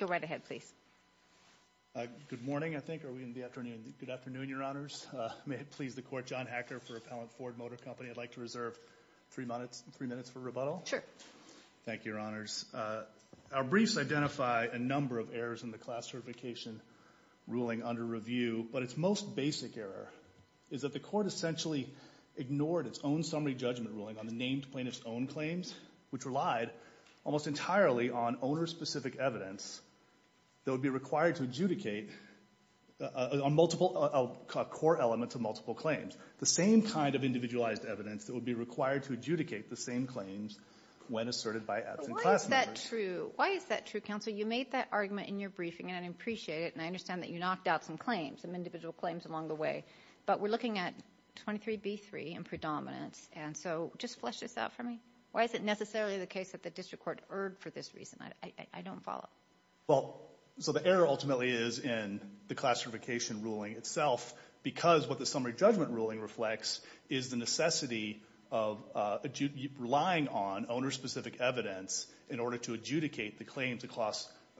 Go right ahead, please. Good morning, I think. Are we in the afternoon? Good afternoon, Your Honors. May it please the Court, John Hacker for Appellant Ford Motor Company. I'd like to reserve three minutes for rebuttal. Sure. Thank you, Your Honors. Our briefs identify a number of errors in the class certification ruling under review, but its most basic error is that the Court essentially ignored its own summary judgment ruling on the named plaintiff's own claims, which relied almost entirely on owner-specific evidence that would be required to adjudicate on multiple core elements of multiple claims, the same kind of individualized evidence that would be required to adjudicate the same claims when asserted by absent class members. But why is that true? Why is that true, Counsel? Counsel, you made that argument in your briefing, and I appreciate it, and I understand that you knocked out some claims, some individual claims along the way, but we're looking at 23B3 in predominance, and so just flesh this out for me. Why is it necessarily the case that the district court erred for this reason? I don't follow. Well, so the error ultimately is in the class certification ruling itself, because what the summary judgment ruling reflects is the necessity of relying on owner-specific evidence in order to adjudicate the claims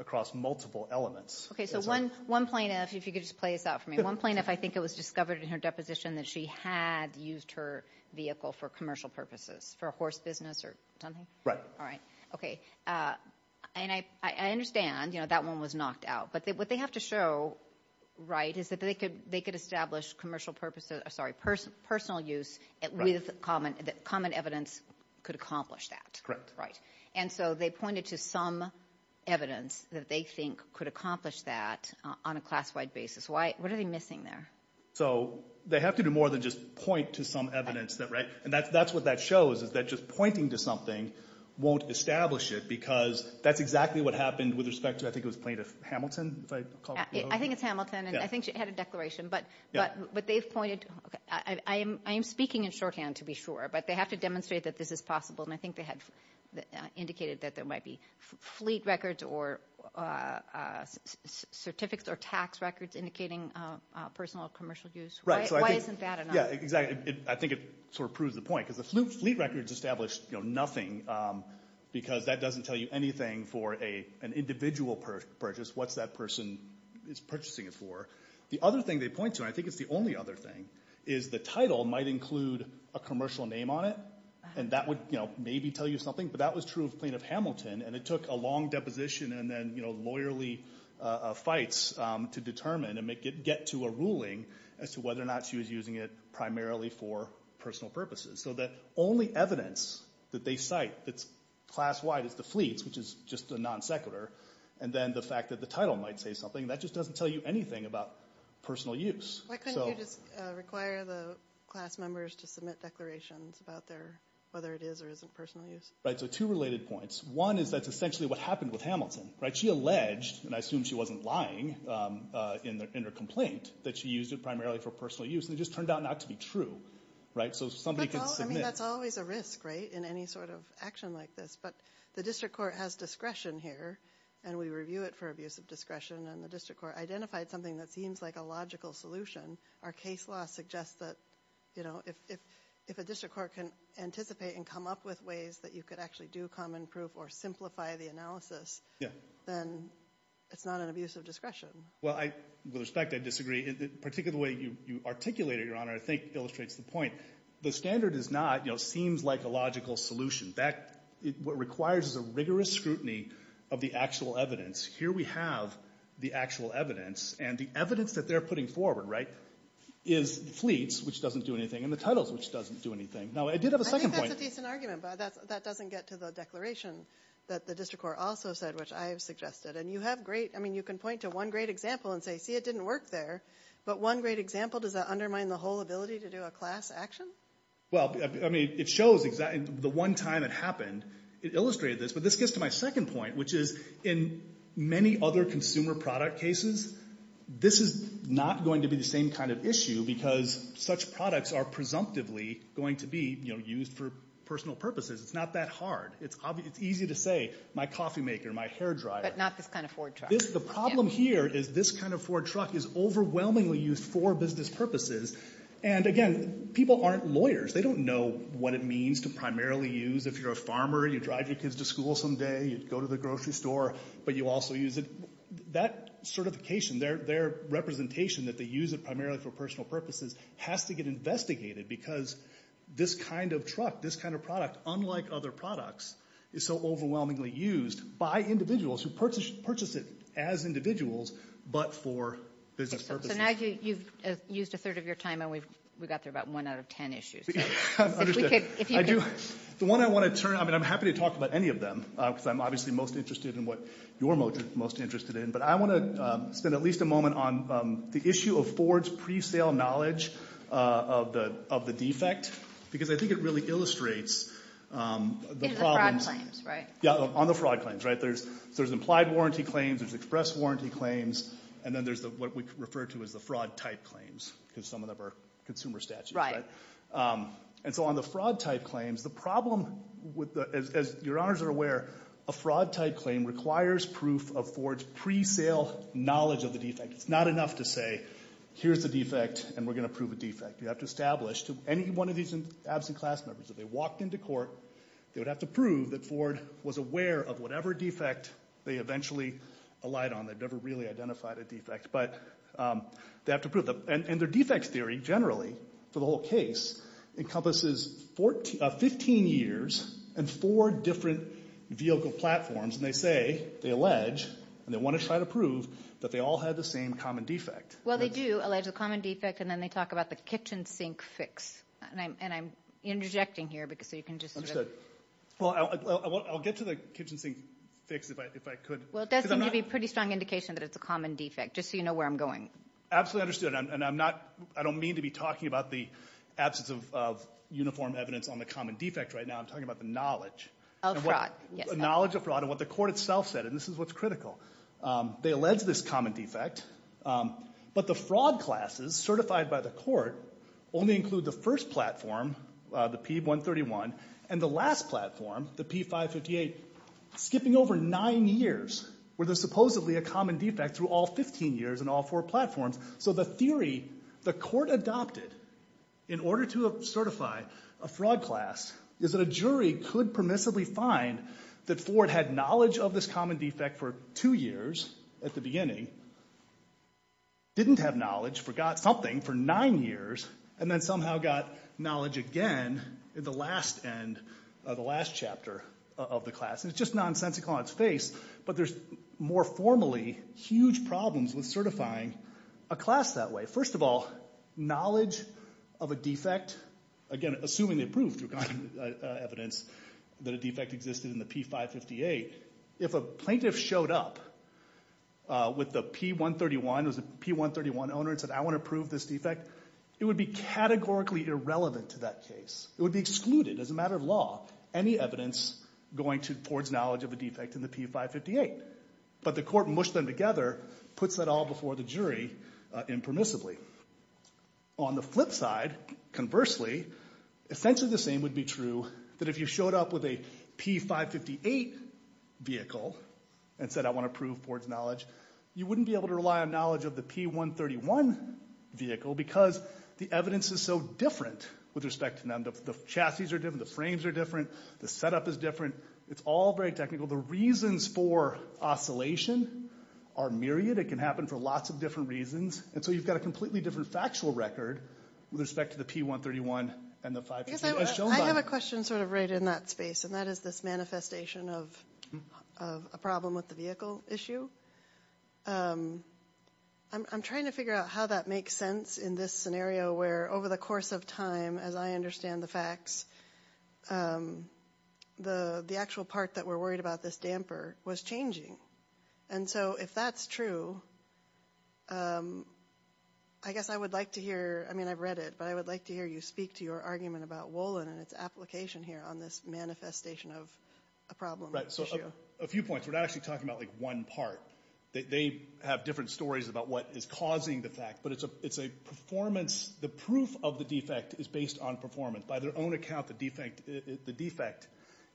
across multiple elements. Okay, so one plaintiff, if you could just play this out for me. One plaintiff, I think it was discovered in her deposition that she had used her vehicle for commercial purposes, for a horse business or something? Right. All right. Okay. And I understand, you know, that one was knocked out, but what they have to show, right, is that they could establish commercial purposes, sorry, personal use with common evidence could accomplish that. Correct. Right, and so they pointed to some evidence that they think could accomplish that on a class-wide basis. What are they missing there? So they have to do more than just point to some evidence, right, and that's what that shows is that just pointing to something won't establish it, because that's exactly what happened with respect to, I think it was Plaintiff Hamilton, if I recall correctly. I think it's Hamilton, and I think she had a declaration, but they've pointed, I am speaking in shorthand to be sure, but they have to demonstrate that this is possible, and I think they had indicated that there might be fleet records or certificates or tax records indicating personal or commercial use. Why isn't that enough? Yeah, exactly. I think it sort of proves the point, because the fleet records establish nothing, because that doesn't tell you anything for an individual purchase. What's that person purchasing it for? The other thing they point to, and I think it's the only other thing, is the title might include a commercial name on it, and that would maybe tell you something, but that was true of Plaintiff Hamilton, and it took a long deposition and then lawyerly fights to determine and get to a ruling as to whether or not she was using it primarily for personal purposes. So the only evidence that they cite that's class-wide is the fleets, which is just a non sequitur, and then the fact that the title might say something, that just doesn't tell you anything about personal use. Why couldn't you just require the class members to submit declarations about their, whether it is or isn't personal use? Right, so two related points. One is that's essentially what happened with Hamilton. She alleged, and I assume she wasn't lying in her complaint, that she used it primarily for personal use, and it just turned out not to be true. So somebody could submit. I mean, that's always a risk, right, in any sort of action like this, but the district court has discretion here, and we review it for abuse of discretion, and the district court identified something that seems like a logical solution. Our case law suggests that, you know, if a district court can anticipate and come up with ways that you could actually do common proof or simplify the analysis, then it's not an abuse of discretion. Well, with respect, I disagree. Particularly the way you articulated it, Your Honor, I think illustrates the point. The standard is not, you know, seems like a logical solution. What it requires is a rigorous scrutiny of the actual evidence. Here we have the actual evidence, and the evidence that they're putting forward, right, is fleets, which doesn't do anything, and the titles, which doesn't do anything. Now, I did have a second point. I think that's a decent argument, but that doesn't get to the declaration that the district court also said, which I have suggested. And you have great, I mean, you can point to one great example and say, see, it didn't work there, but one great example, does that undermine the whole ability to do a class action? Well, I mean, it shows the one time it happened. It illustrated this, but this gets to my second point, which is in many other consumer product cases, this is not going to be the same kind of issue because such products are presumptively going to be, you know, used for personal purposes. It's not that hard. It's easy to say, my coffee maker, my hair dryer. But not this kind of Ford truck. The problem here is this kind of Ford truck is overwhelmingly used for business purposes. And, again, people aren't lawyers. They don't know what it means to primarily use. If you're a farmer, you drive your kids to school some day, you go to the grocery store, but you also use it. That certification, their representation that they use it primarily for personal purposes has to get investigated because this kind of truck, this kind of product, unlike other products, is so overwhelmingly used by individuals who purchase it as individuals, but for business purposes. So now you've used a third of your time, and we got through about one out of ten issues. The one I want to turn, I mean, I'm happy to talk about any of them because I'm obviously most interested in what you're most interested in, but I want to spend at least a moment on the issue of Ford's pre-sale knowledge of the defect because I think it really illustrates the problems. In the fraud claims, right? Yeah, on the fraud claims, right? There's implied warranty claims, there's express warranty claims, and then there's what we refer to as the fraud type claims because some of them are consumer statutes. And so on the fraud type claims, the problem, as your honors are aware, a fraud type claim requires proof of Ford's pre-sale knowledge of the defect. It's not enough to say, here's the defect, and we're going to prove a defect. You have to establish to any one of these absent class members, if they walked into court, they would have to prove that Ford was aware of whatever defect they eventually allied on. They've never really identified a defect, but they have to prove them. And their defect theory, generally, for the whole case, encompasses 15 years and four different vehicle platforms, and they say, they allege, and they want to try to prove that they all had the same common defect. Well, they do allege a common defect, and then they talk about the kitchen sink fix. And I'm interjecting here so you can just sort of – Well, I'll get to the kitchen sink fix if I could. Well, it does seem to be a pretty strong indication that it's a common defect, just so you know where I'm going. Absolutely understood. And I'm not – I don't mean to be talking about the absence of uniform evidence on the common defect right now. I'm talking about the knowledge. Of fraud, yes. The knowledge of fraud and what the court itself said, and this is what's critical. They allege this common defect, but the fraud classes certified by the court only include the first platform, the P131, and the last platform, the P558, skipping over nine years where there's supposedly a common defect through all 15 years in all four platforms. So the theory the court adopted in order to certify a fraud class is that a jury could permissibly find that Ford had knowledge of this common defect for two years at the beginning, didn't have knowledge, forgot something for nine years, and then somehow got knowledge again at the last end of the last chapter of the class. And it's just nonsensical on its face, but there's more formally huge problems with certifying a class that way. First of all, knowledge of a defect, again, assuming they proved through evidence that a defect existed in the P558, if a plaintiff showed up with the P131, it was a P131 owner and said, I want to prove this defect, it would be categorically irrelevant to that case. It would be excluded as a matter of law. Any evidence going to Ford's knowledge of a defect in the P558. But the court mushed them together, puts that all before the jury impermissibly. On the flip side, conversely, essentially the same would be true that if you showed up with a P558 vehicle and said, I want to prove Ford's knowledge, you wouldn't be able to rely on knowledge of the P131 vehicle because the evidence is so different with respect to them. The chassis are different, the frames are different, the setup is different. It's all very technical. The reasons for oscillation are myriad. It can happen for lots of different reasons. And so you've got a completely different factual record with respect to the P131 and the 558. I have a question sort of right in that space, and that is this manifestation of a problem with the vehicle issue. I'm trying to figure out how that makes sense in this scenario where over the course of time, as I understand the facts, the actual part that we're worried about, this damper, was changing. And so if that's true, I guess I would like to hear, I mean I've read it, but I would like to hear you speak to your argument about Wolin and its application here on this manifestation of a problem with the issue. So a few points. We're not actually talking about like one part. They have different stories about what is causing the fact, but it's a performance. The proof of the defect is based on performance. By their own account, the defect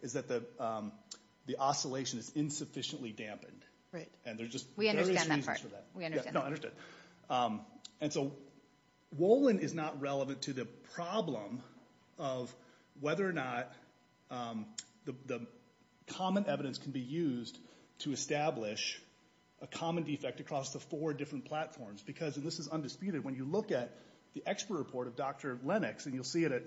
is that the oscillation is insufficiently dampened. We understand that part. No, I understand. And so Wolin is not relevant to the problem of whether or not the common evidence can be used to establish a common defect across the four different platforms because, and this is undisputed, when you look at the expert report of Dr. Lennox, and you'll see it at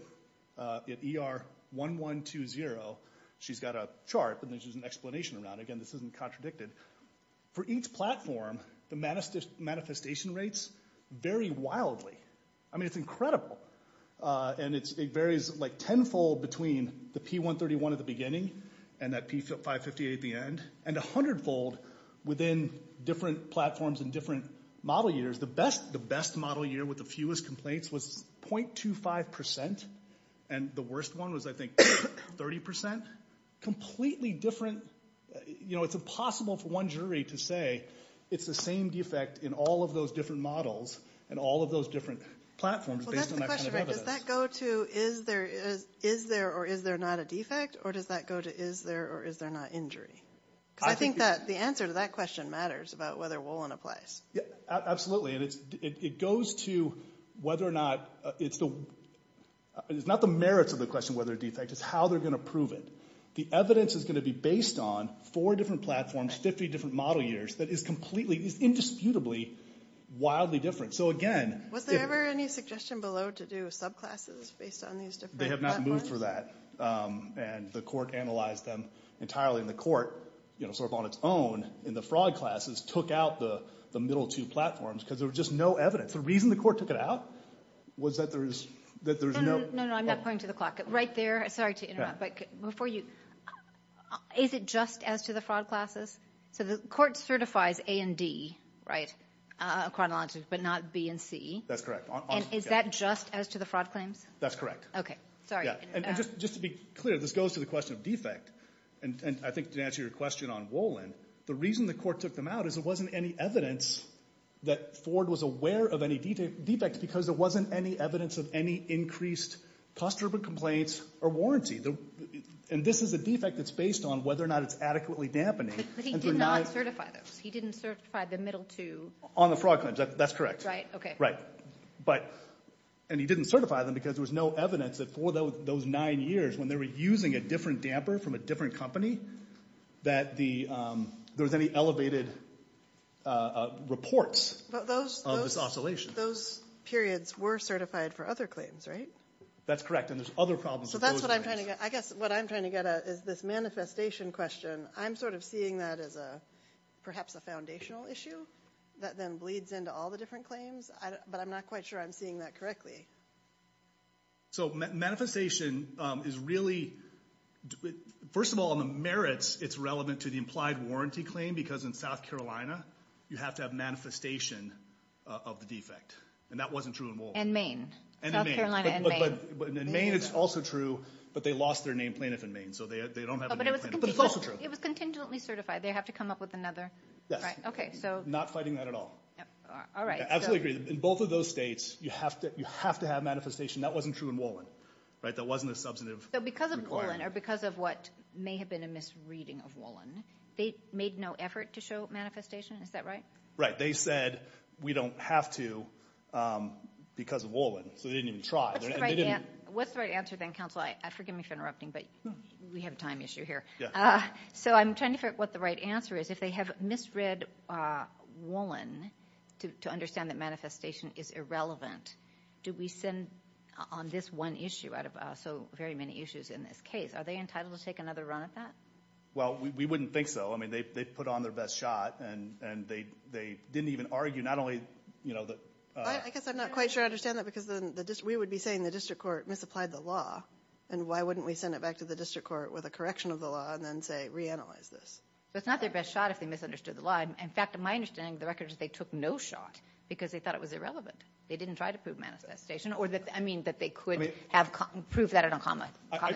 ER 1120, she's got a chart, and there's just an explanation around it. Again, this isn't contradicted. For each platform, the manifestation rates vary wildly. I mean it's incredible. And it varies like tenfold between the P131 at the beginning and that P558 at the end, and a hundredfold within different platforms and different model years. The best model year with the fewest complaints was 0.25%, and the worst one was I think 30%. Completely different. You know, it's impossible for one jury to say it's the same defect in all of those different models and all of those different platforms based on that kind of evidence. Well, that's the question, right? Does that go to is there or is there not a defect, or does that go to is there or is there not injury? Because I think that the answer to that question matters about whether woolen applies. Absolutely. And it goes to whether or not it's the, it's not the merits of the question whether it's a defect, it's how they're going to prove it. The evidence is going to be based on four different platforms, 50 different model years, that is completely, is indisputably wildly different. So again. Was there ever any suggestion below to do subclasses based on these different platforms? They have not moved for that. And the court analyzed them entirely. And the court, you know, sort of on its own in the fraud classes, took out the middle two platforms because there was just no evidence. The reason the court took it out was that there's no. No, no, I'm not pointing to the clock. Right there. Sorry to interrupt, but before you. Is it just as to the fraud classes? So the court certifies A and D, right, chronologically, but not B and C. That's correct. And is that just as to the fraud claims? That's correct. Okay. Sorry. And just to be clear, this goes to the question of defect. And I think to answer your question on Wolin, the reason the court took them out is there wasn't any evidence that Ford was aware of any defects because there wasn't any evidence of any increased cost of complaints or warranty. And this is a defect that's based on whether or not it's adequately dampening. But he did not certify those. He didn't certify the middle two. On the fraud claims. That's correct. Right. Okay. Right. And he didn't certify them because there was no evidence that for those nine years, when they were using a different damper from a different company, that there was any elevated reports of this oscillation. But those periods were certified for other claims, right? That's correct, and there's other problems with those claims. So that's what I'm trying to get at. I guess what I'm trying to get at is this manifestation question. I'm sort of seeing that as perhaps a foundational issue that then bleeds into all the different claims. But I'm not quite sure I'm seeing that correctly. So manifestation is really – first of all, on the merits, it's relevant to the implied warranty claim because in South Carolina, you have to have manifestation of the defect. And that wasn't true in Wolfe. And Maine. And in Maine. South Carolina and Maine. But in Maine it's also true, but they lost their named plaintiff in Maine. So they don't have a named plaintiff. But it's also true. It was contingently certified. They have to come up with another. Yes. Right. Okay. Not fighting that at all. All right. I absolutely agree. In both of those states, you have to have manifestation. That wasn't true in Wollin. That wasn't a substantive requirement. So because of Wollin or because of what may have been a misreading of Wollin, they made no effort to show manifestation? Is that right? Right. They said we don't have to because of Wollin. So they didn't even try. What's the right answer then, counsel? Forgive me for interrupting, but we have a time issue here. So I'm trying to figure out what the right answer is. If they have misread Wollin to understand that manifestation is irrelevant, do we send on this one issue out of so very many issues in this case? Are they entitled to take another run at that? Well, we wouldn't think so. They put on their best shot, and they didn't even argue. I guess I'm not quite sure I understand that because we would be saying the district court misapplied the law, and why wouldn't we send it back to the district court with a correction of the law and then say reanalyze this? It's not their best shot if they misunderstood the law. In fact, my understanding of the record is they took no shot because they thought it was irrelevant. They didn't try to prove manifestation. I mean that they could have proved that on a common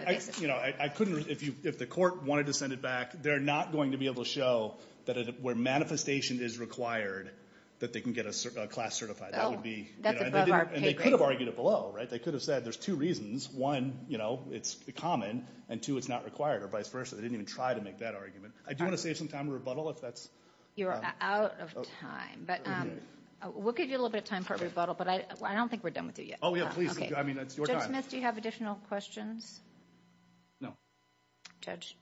basis. If the court wanted to send it back, they're not going to be able to show that where manifestation is required that they can get a class certified. That's above our paper. They could have argued it below. They could have said there's two reasons. One, it's common, and two, it's not required, or vice versa. They didn't even try to make that argument. I do want to save some time for rebuttal if that's... You're out of time. We'll give you a little bit of time for rebuttal, but I don't think we're done with you yet. Oh, yeah, please. I mean, it's your time. Judge Smith, do you have additional questions? No. Judge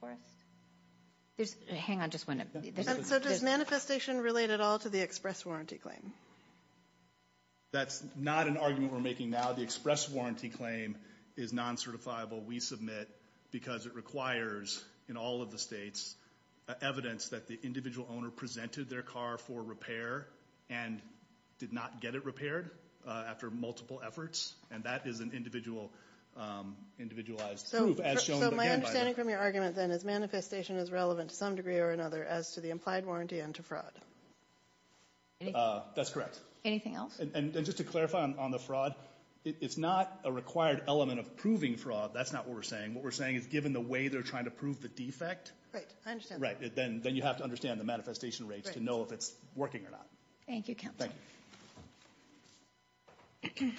Forrest? Hang on, just one. So does manifestation relate at all to the express warranty claim? That's not an argument we're making now. The express warranty claim is non-certifiable. We submit because it requires, in all of the states, evidence that the individual owner presented their car for repair and did not get it repaired after multiple efforts, and that is an individualized proof, as shown by the... So my understanding from your argument, then, is manifestation is relevant to some degree or another as to the implied warranty and to fraud. That's correct. Anything else? And just to clarify on the fraud, it's not a required element of proving fraud. That's not what we're saying. What we're saying is, given the way they're trying to prove the defect... Right, I understand. Right, then you have to understand the manifestation rates to know if it's working or not. Thank you, counsel. Thank you.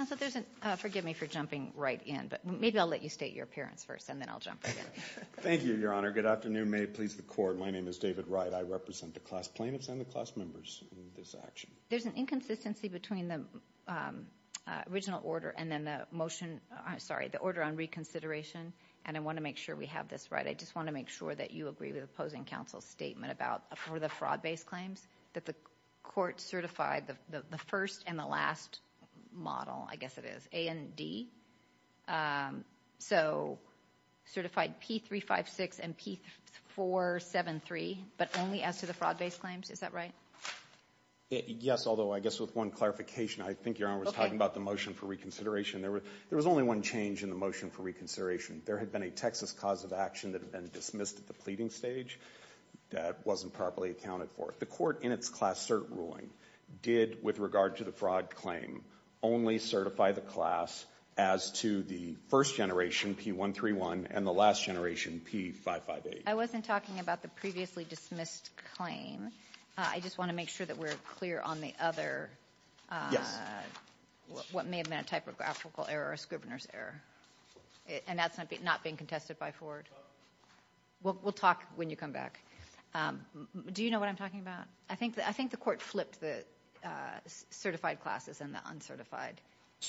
I thought there was a... Forgive me for jumping right in, but maybe I'll let you state your appearance first, and then I'll jump in. Thank you, Your Honor. Good afternoon. May it please the Court. My name is David Wright. I represent the class plaintiffs and the class members in this action. There's an inconsistency between the original order and then the motion... I'm sorry, the order on reconsideration and a motion on reconsideration. I want to make sure we have this right. I just want to make sure that you agree with the opposing counsel's statement about for the fraud-based claims that the Court certified the first and the last model, I guess it is, A and D. So certified P356 and P473, but only as to the fraud-based claims. Is that right? Yes, although I guess with one clarification, I think Your Honor was talking about the motion for reconsideration. There was only one change in the motion for reconsideration. There had been a Texas cause of action that had been dismissed at the pleading stage that wasn't properly accounted for. The Court, in its class cert ruling, did, with regard to the fraud claim, only certify the class as to the first generation, P131, and the last generation, P558. I wasn't talking about the previously dismissed claim. I just want to make sure that we're clear on the other... Yes. ...what may have been a typographical error or a Scrivener's error. And that's not being contested by Ford. We'll talk when you come back. Do you know what I'm talking about? I think the Court flipped the certified classes and the uncertified,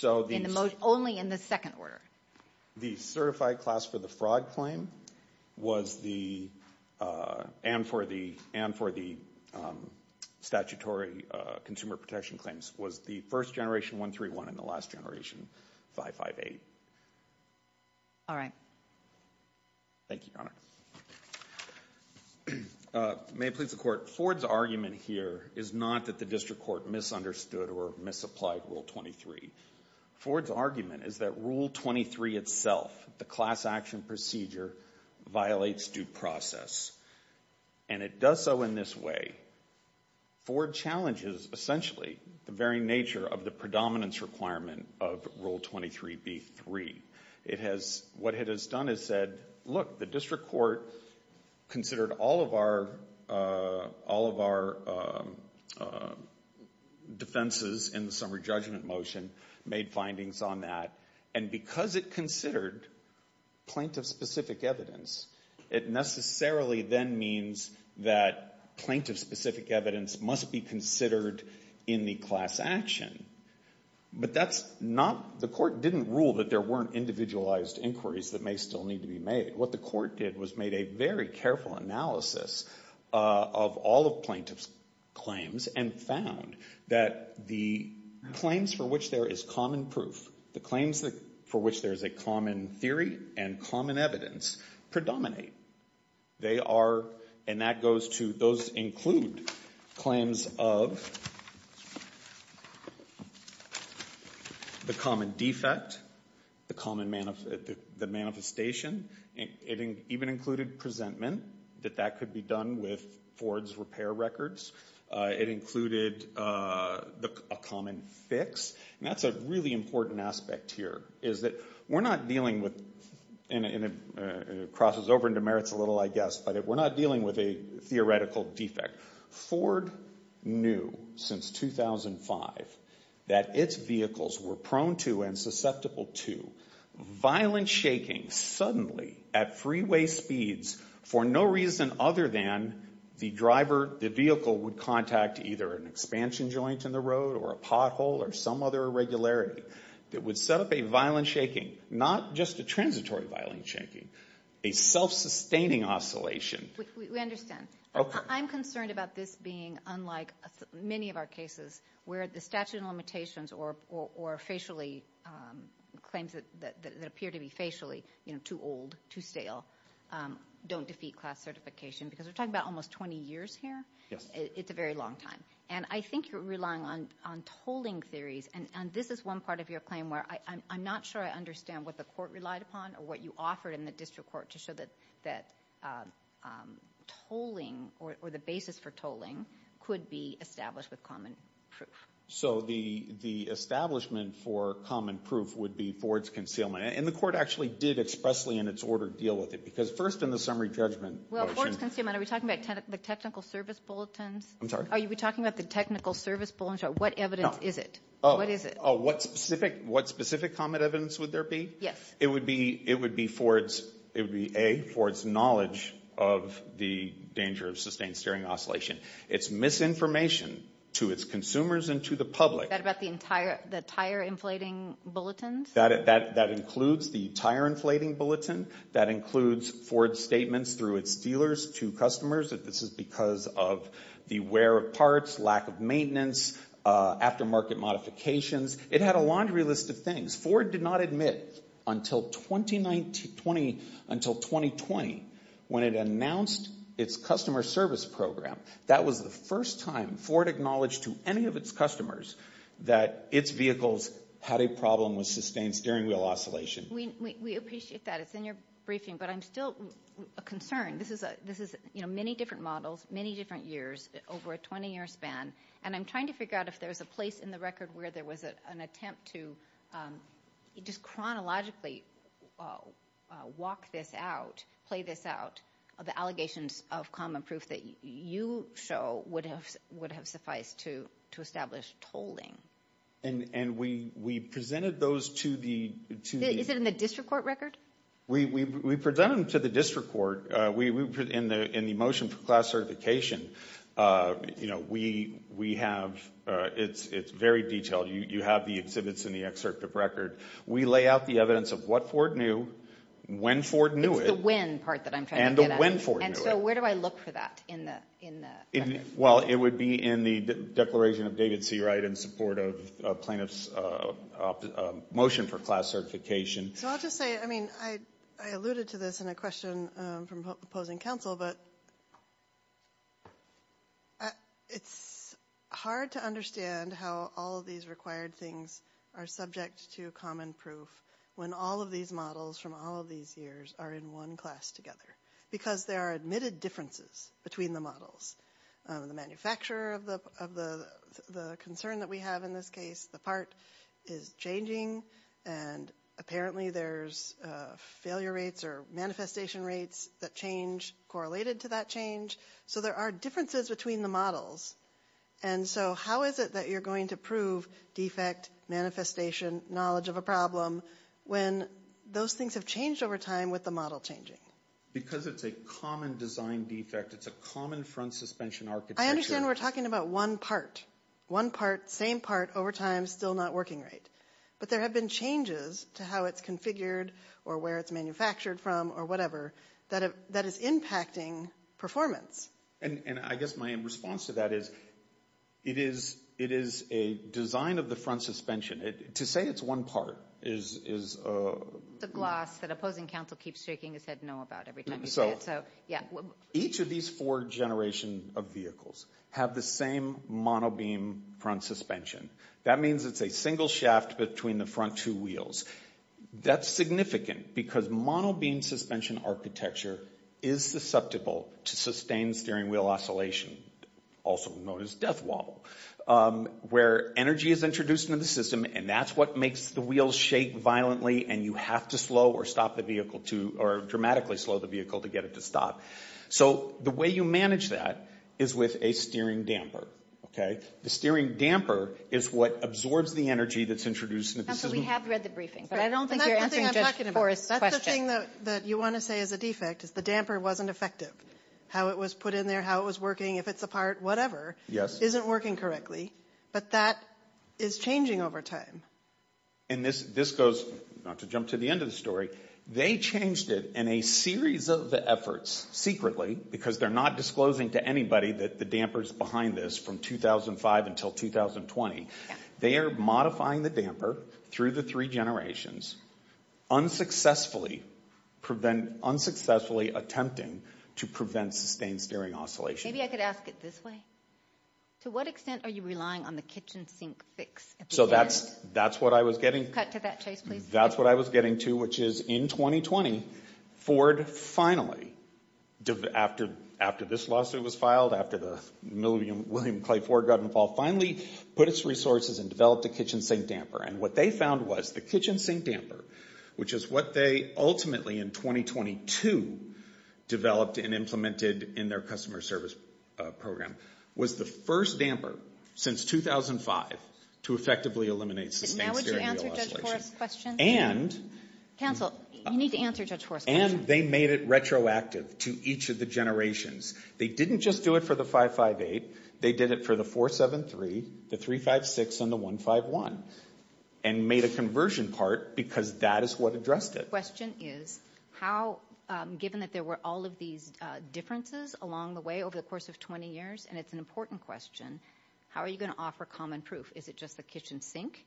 only in the second order. The certified class for the fraud claim was the... and for the statutory consumer protection claims was the first generation 131 and the last generation 558. All right. Thank you, Your Honor. May it please the Court, Ford's argument here is not that the district court misunderstood or misapplied Rule 23. Ford's argument is that Rule 23 itself, the class action procedure, violates due process. And it does so in this way. Ford challenges, essentially, the very nature of the predominance requirement of Rule 23b-3. It has...what it has done is said, look, the district court considered all of our defenses in the summary judgment motion, made findings on that, and because it considered plaintiff-specific evidence, it necessarily then means that plaintiff-specific evidence must be considered in the class action. But that's not...the court didn't rule that there weren't individualized inquiries that may still need to be made. What the court did was made a very careful analysis of all of plaintiff's claims and found that the claims for which there is common proof, the claims for which there is a common theory and common evidence, predominate. They are...and that goes to... those include claims of... the common defect, the common...the manifestation. It even included presentment, that that could be done with Ford's repair records. It included a common fix. And that's a really important aspect here, is that we're not dealing with... and it crosses over into merits a little, I guess, but we're not dealing with a theoretical defect. Ford knew since 2005 that its vehicles were prone to and susceptible to violent shaking suddenly at freeway speeds for no reason other than the driver... the vehicle would contact either an expansion joint in the road or a pothole or some other irregularity that would set up a violent shaking, not just a transitory violent shaking, a self-sustaining oscillation. We understand. Okay. I'm concerned about this being unlike many of our cases where the statute of limitations or facially...claims that appear to be facially, you know, too old, too stale, don't defeat class certification because we're talking about almost 20 years here. Yes. It's a very long time. And I think you're relying on tolling theories, and this is one part of your claim where I'm not sure I understand what the court relied upon or what you offered in the district court to show that tolling or the basis for tolling could be established with common proof. So the establishment for common proof would be Ford's concealment. And the court actually did expressly in its order deal with it because first in the summary judgment... Well, Ford's concealment, are we talking about the technical service bulletins? I'm sorry? Are we talking about the technical service bulletins? What evidence is it? No. What is it? What specific comment evidence would there be? Yes. It would be A, Ford's knowledge of the danger of sustained steering oscillation. It's misinformation to its consumers and to the public. Is that about the tire inflating bulletins? That includes the tire inflating bulletin. That includes Ford's statements through its dealers to customers that this is because of the wear of parts, lack of maintenance, aftermarket modifications. It had a laundry list of things. Ford did not admit until 2020 when it announced its customer service program. That was the first time Ford acknowledged to any of its customers that its vehicles had a problem with sustained steering wheel oscillation. We appreciate that. It's in your briefing. But I'm still concerned. This is many different models, many different years, over a 20-year span. And I'm trying to figure out if there's a place in the record where there was an attempt to just chronologically walk this out, play this out, the allegations of common proof that you show would have sufficed to establish tolling. And we presented those to the— Is it in the district court record? We presented them to the district court in the motion for class certification. You know, we have—it's very detailed. You have the exhibits in the excerpt of record. We lay out the evidence of what Ford knew, when Ford knew it. It's the when part that I'm trying to get at. And the when Ford knew it. And so where do I look for that in the record? Well, it would be in the declaration of David Seawright in support of plaintiff's motion for class certification. So I'll just say, I mean, I alluded to this in a question from opposing counsel, but it's hard to understand how all of these required things are subject to common proof when all of these models from all of these years are in one class together because there are admitted differences between the models. The manufacturer of the concern that we have in this case, the part is changing, and apparently there's failure rates or manifestation rates that change correlated to that change. So there are differences between the models. And so how is it that you're going to prove defect, manifestation, knowledge of a problem when those things have changed over time with the model changing? Because it's a common design defect. It's a common front suspension architecture. I understand we're talking about one part. One part, same part, over time, still not working right. But there have been changes to how it's configured or where it's manufactured from or whatever that is impacting performance. And I guess my response to that is it is a design of the front suspension. To say it's one part is a... The gloss that opposing counsel keeps shaking his head no about every time you say it. Each of these four generations of vehicles have the same monobeam front suspension. That means it's a single shaft between the front two wheels. That's significant because monobeam suspension architecture is susceptible to sustained steering wheel oscillation, also known as death wobble, where energy is introduced into the system and that's what makes the wheels shake violently and you have to slow or stop the vehicle to... or dramatically slow the vehicle to get it to stop. So the way you manage that is with a steering damper. The steering damper is what absorbs the energy that's introduced into the system. We have read the briefing, but I don't think you're answering Judge Forrest's question. That's the thing that you want to say is a defect, is the damper wasn't effective. How it was put in there, how it was working, if it's apart, whatever, isn't working correctly, but that is changing over time. And this goes, not to jump to the end of the story, they changed it in a series of efforts, secretly, because they're not disclosing to anybody that the damper's behind this from 2005 until 2020. They are modifying the damper through the three generations, unsuccessfully attempting to prevent sustained steering oscillation. Maybe I could ask it this way. To what extent are you relying on the kitchen sink fix? So that's what I was getting to, which is in 2020, Ford finally, after this lawsuit was filed, after William Clay Ford got involved, finally put its resources and developed a kitchen sink damper. And what they found was the kitchen sink damper, which is what they ultimately in 2022 developed and implemented in their customer service program, was the first damper since 2005 to effectively eliminate sustained steering wheel oscillation. And they made it retroactive to each of the generations. They didn't just do it for the 558. They did it for the 473, the 356, and the 151, and made a conversion part because that is what addressed it. The question is how, given that there were all of these differences along the way over the course of 20 years, and it's an important question, how are you going to offer common proof? Is it just the kitchen sink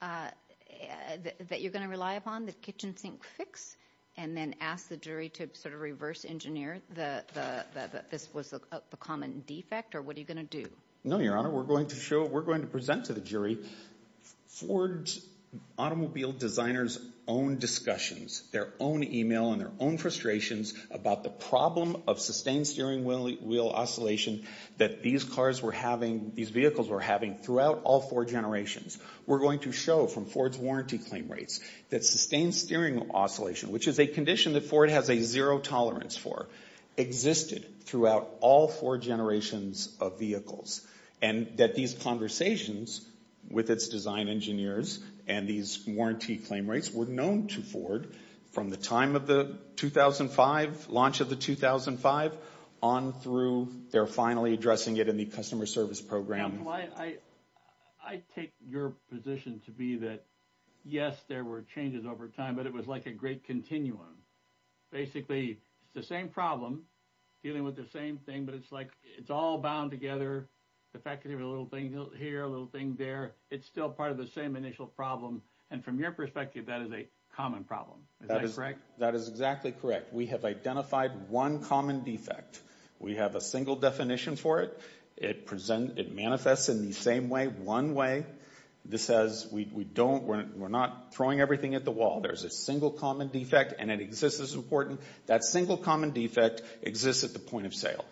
that you're going to rely upon, the kitchen sink fix, and then ask the jury to sort of reverse engineer that this was the common defect, or what are you going to do? No, Your Honor. We're going to show, we're going to present to the jury Ford automobile designers' own discussions, their own email and their own frustrations about the problem of sustained steering wheel oscillation that these cars were having, these vehicles were having throughout all four generations. We're going to show from Ford's warranty claim rates that sustained steering oscillation, which is a condition that Ford has a zero tolerance for, existed throughout all four generations of vehicles, and that these conversations with its design engineers and these warranty claim rates were known to Ford from the time of the 2005, launch of the 2005, on through they're finally addressing it in the customer service program. I take your position to be that, yes, there were changes over time, but it was like a great continuum. Basically, it's the same problem, dealing with the same thing, but it's like it's all bound together. The fact that there's a little thing here, a little thing there, it's still part of the same initial problem, and from your perspective, that is a common problem. Is that correct? That is exactly correct. We have identified one common defect. We have a single definition for it. It manifests in the same way, one way. This says we don't, we're not throwing everything at the wall. There's a single common defect, and it exists as important. That single common defect exists at the point of sale.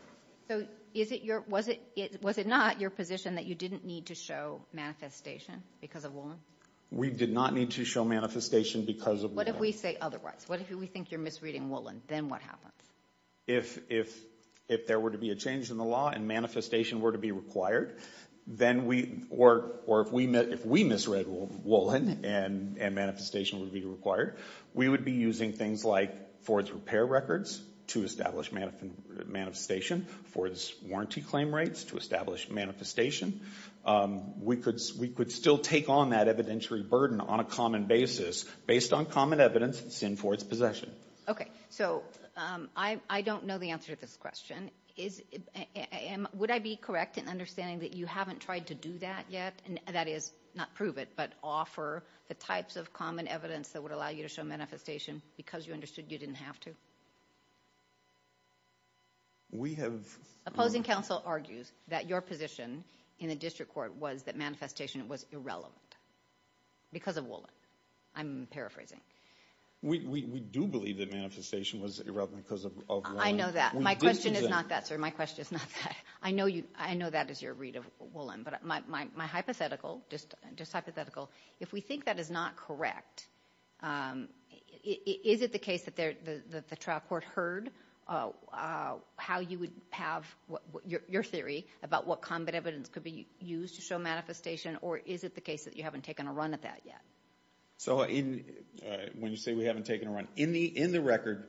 So is it your, was it not your position that you didn't need to show manifestation because of Woolen? We did not need to show manifestation because of Woolen. What if we say otherwise? What if we think you're misreading Woolen? Then what happens? If there were to be a change in the law and manifestation were to be required, then we, or if we misread Woolen and manifestation would be required, we would be using things like Ford's repair records to establish manifestation, Ford's warranty claim rates to establish manifestation. We could still take on that evidentiary burden on a common basis based on common evidence that's in Ford's possession. Okay, so I don't know the answer to this question. Would I be correct in understanding that you haven't tried to do that yet, that is, not prove it, but offer the types of common evidence that would allow you to show manifestation because you understood you didn't have to? We have. Opposing counsel argues that your position in the district court was that manifestation was irrelevant because of Woolen. I'm paraphrasing. We do believe that manifestation was irrelevant because of Woolen. I know that. My question is not that, sir. My question is not that. I know that is your read of Woolen, but my hypothetical, just hypothetical, if we think that is not correct, is it the case that the trial court heard how you would have your theory about what common evidence could be used to show manifestation, or is it the case that you haven't taken a run at that yet? So when you say we haven't taken a run, in the record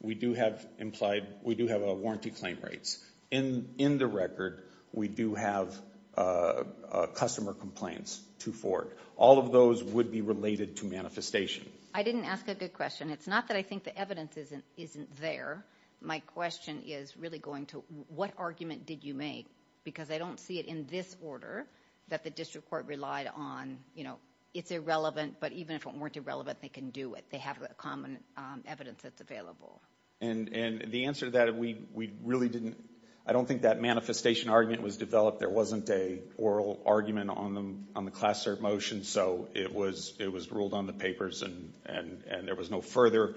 we do have a warranty claim rates. In the record we do have customer complaints to Ford. All of those would be related to manifestation. I didn't ask a good question. It's not that I think the evidence isn't there. My question is really going to what argument did you make? Because I don't see it in this order that the district court relied on. It's irrelevant, but even if it weren't irrelevant, they can do it. They have common evidence that's available. And the answer to that, we really didn't, I don't think that manifestation argument was developed. There wasn't an oral argument on the class cert motion, so it was ruled on the papers, and there was no further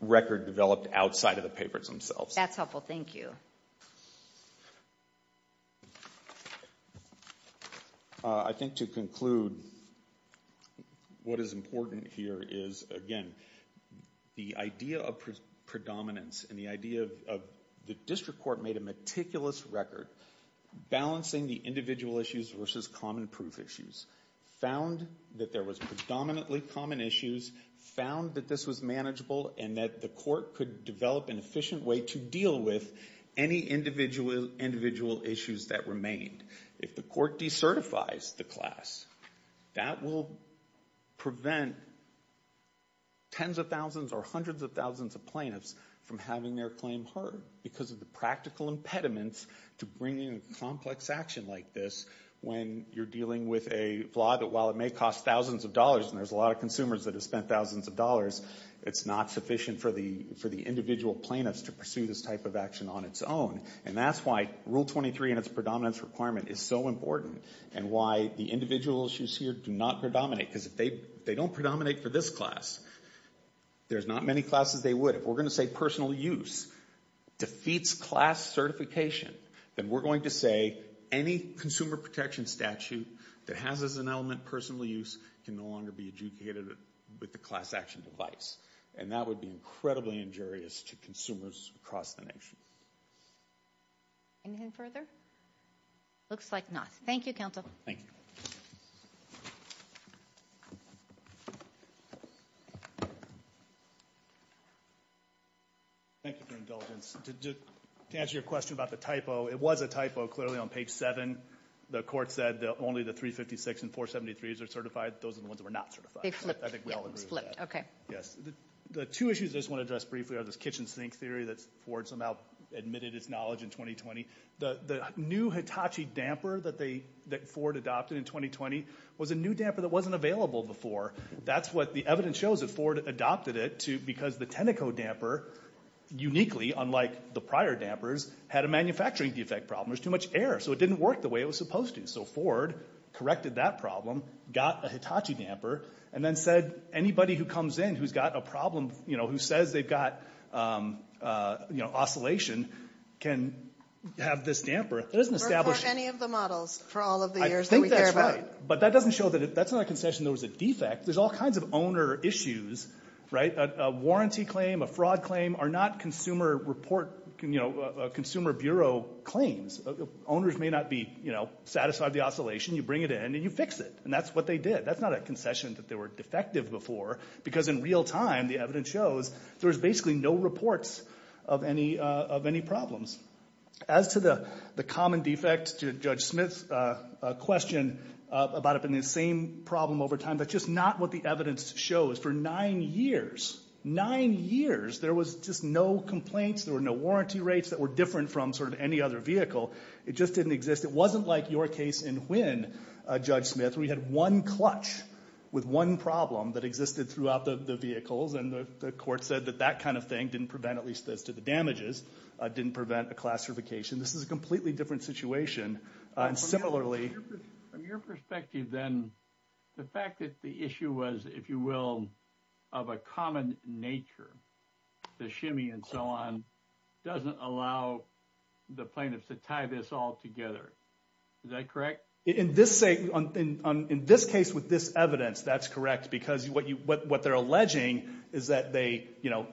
record developed outside of the papers themselves. That's helpful. Thank you. I think to conclude, what is important here is, again, the idea of predominance and the idea of the district court made a meticulous record, balancing the individual issues versus common proof issues, found that there was predominantly common issues, found that this was manageable, and that the court could develop an efficient way to deal with any individual issues that remained. If the court decertifies the class, that will prevent tens of thousands or hundreds of thousands of plaintiffs from having their claim heard because of the practical impediments to bringing a complex action like this when you're dealing with a flaw that, while it may cost thousands of dollars, and there's a lot of consumers that have spent thousands of dollars, it's not sufficient for the individual plaintiffs to pursue this type of action on its own. And that's why Rule 23 and its predominance requirement is so important and why the individual issues here do not predominate because if they don't predominate for this class, there's not many classes they would. If we're going to say personal use defeats class certification, then we're going to say any consumer protection statute that has as an element personal use can no longer be adjudicated with the class action device, and that would be incredibly injurious to consumers across the nation. Anything further? Looks like not. Thank you, counsel. Thank you. Thank you for your indulgence. To answer your question about the typo, it was a typo, clearly, on page 7. The court said that only the 356 and 473s are certified. Those are the ones that were not certified. They flipped. I think we all agree with that. The two issues I just want to address briefly are this kitchen sink theory that Ford somehow admitted its knowledge in 2020. The new Hitachi damper that Ford adopted in 2020 was a new damper that wasn't available before. That's what the evidence shows that Ford adopted it because the Teneco damper uniquely, unlike the prior dampers, had a manufacturing defect problem. There was too much air, so it didn't work the way it was supposed to. So Ford corrected that problem, got a Hitachi damper, and then said anybody who comes in who's got a problem, who says they've got oscillation can have this damper. It doesn't establish any of the models for all of the years that we care about. I think that's right, but that doesn't show that that's not a concession. There was a defect. There's all kinds of owner issues, right? A warranty claim, a fraud claim are not Consumer Bureau claims. Owners may not be satisfied with the oscillation. You bring it in and you fix it, and that's what they did. That's not a concession that they were defective before because in real time the evidence shows there's basically no reports of any problems. As to the common defect, Judge Smith's question about it being the same problem over time, that's just not what the evidence shows. For nine years, nine years, there was just no complaints. There were no warranty rates that were different from sort of any other vehicle. It just didn't exist. It wasn't like your case in Huynh, Judge Smith, where you had one clutch with one problem that existed throughout the vehicles, and the court said that that kind of thing didn't prevent, at least as to the damages, didn't prevent a classification. This is a completely different situation. And similarly— From your perspective then, the fact that the issue was, if you will, of a common nature, the shimmy and so on, doesn't allow the plaintiffs to tie this all together. Is that correct? In this case, with this evidence, that's correct, because what they're alleging is that the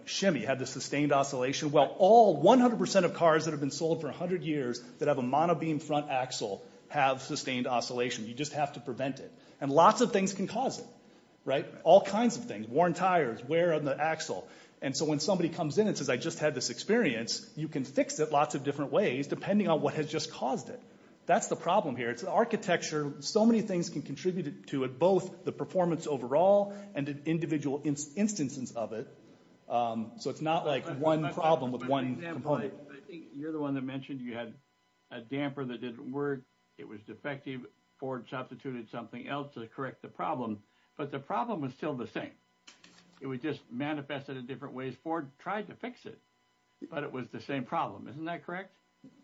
shimmy had the sustained oscillation. Well, all 100% of cars that have been sold for 100 years that have a monobeam front axle have sustained oscillation. You just have to prevent it. And lots of things can cause it. All kinds of things. Worn tires, wear on the axle. And so when somebody comes in and says, I just had this experience, you can fix it lots of different ways depending on what has just caused it. That's the problem here. It's the architecture. So many things can contribute to it, both the performance overall and the individual instances of it. So it's not like one problem with one component. I think you're the one that mentioned you had a damper that didn't work. It was defective. Ford substituted something else to correct the problem. But the problem was still the same. It was just manifested in different ways. Ford tried to fix it, but it was the same problem. Isn't that correct?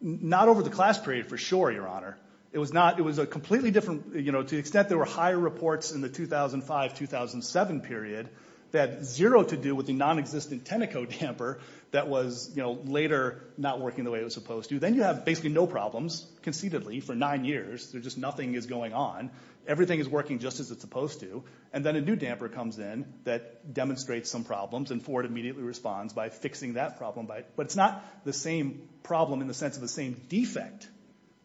Not over the class period for sure, Your Honor. It was a completely different – to the extent there were higher reports in the 2005-2007 period that had zero to do with the nonexistent Teneco damper that was later not working the way it was supposed to. Then you have basically no problems conceitedly for nine years. There's just nothing is going on. Everything is working just as it's supposed to. And then a new damper comes in that demonstrates some problems, and Ford immediately responds by fixing that problem. But it's not the same problem in the sense of the same defect.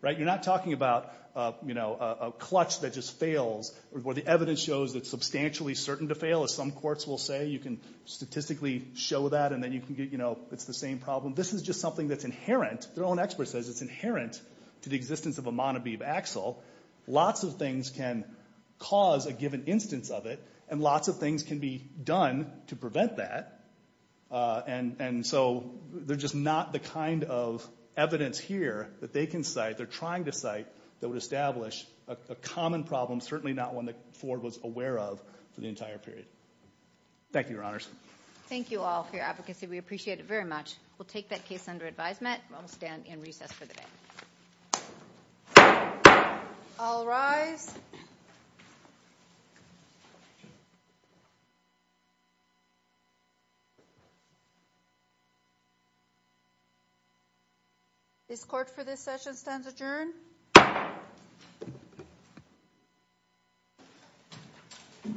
You're not talking about a clutch that just fails where the evidence shows it's substantially certain to fail, as some courts will say. You can statistically show that, and then it's the same problem. This is just something that's inherent. Their own expert says it's inherent to the existence of a Monobebe axle. Lots of things can cause a given instance of it, and lots of things can be done to prevent that. And so they're just not the kind of evidence here that they can cite, they're trying to cite, that would establish a common problem, certainly not one that Ford was aware of for the entire period. Thank you, Your Honors. Thank you all for your advocacy. We appreciate it very much. We'll take that case under advisement. We'll stand in recess for the day. All rise. This court for this session stands adjourned.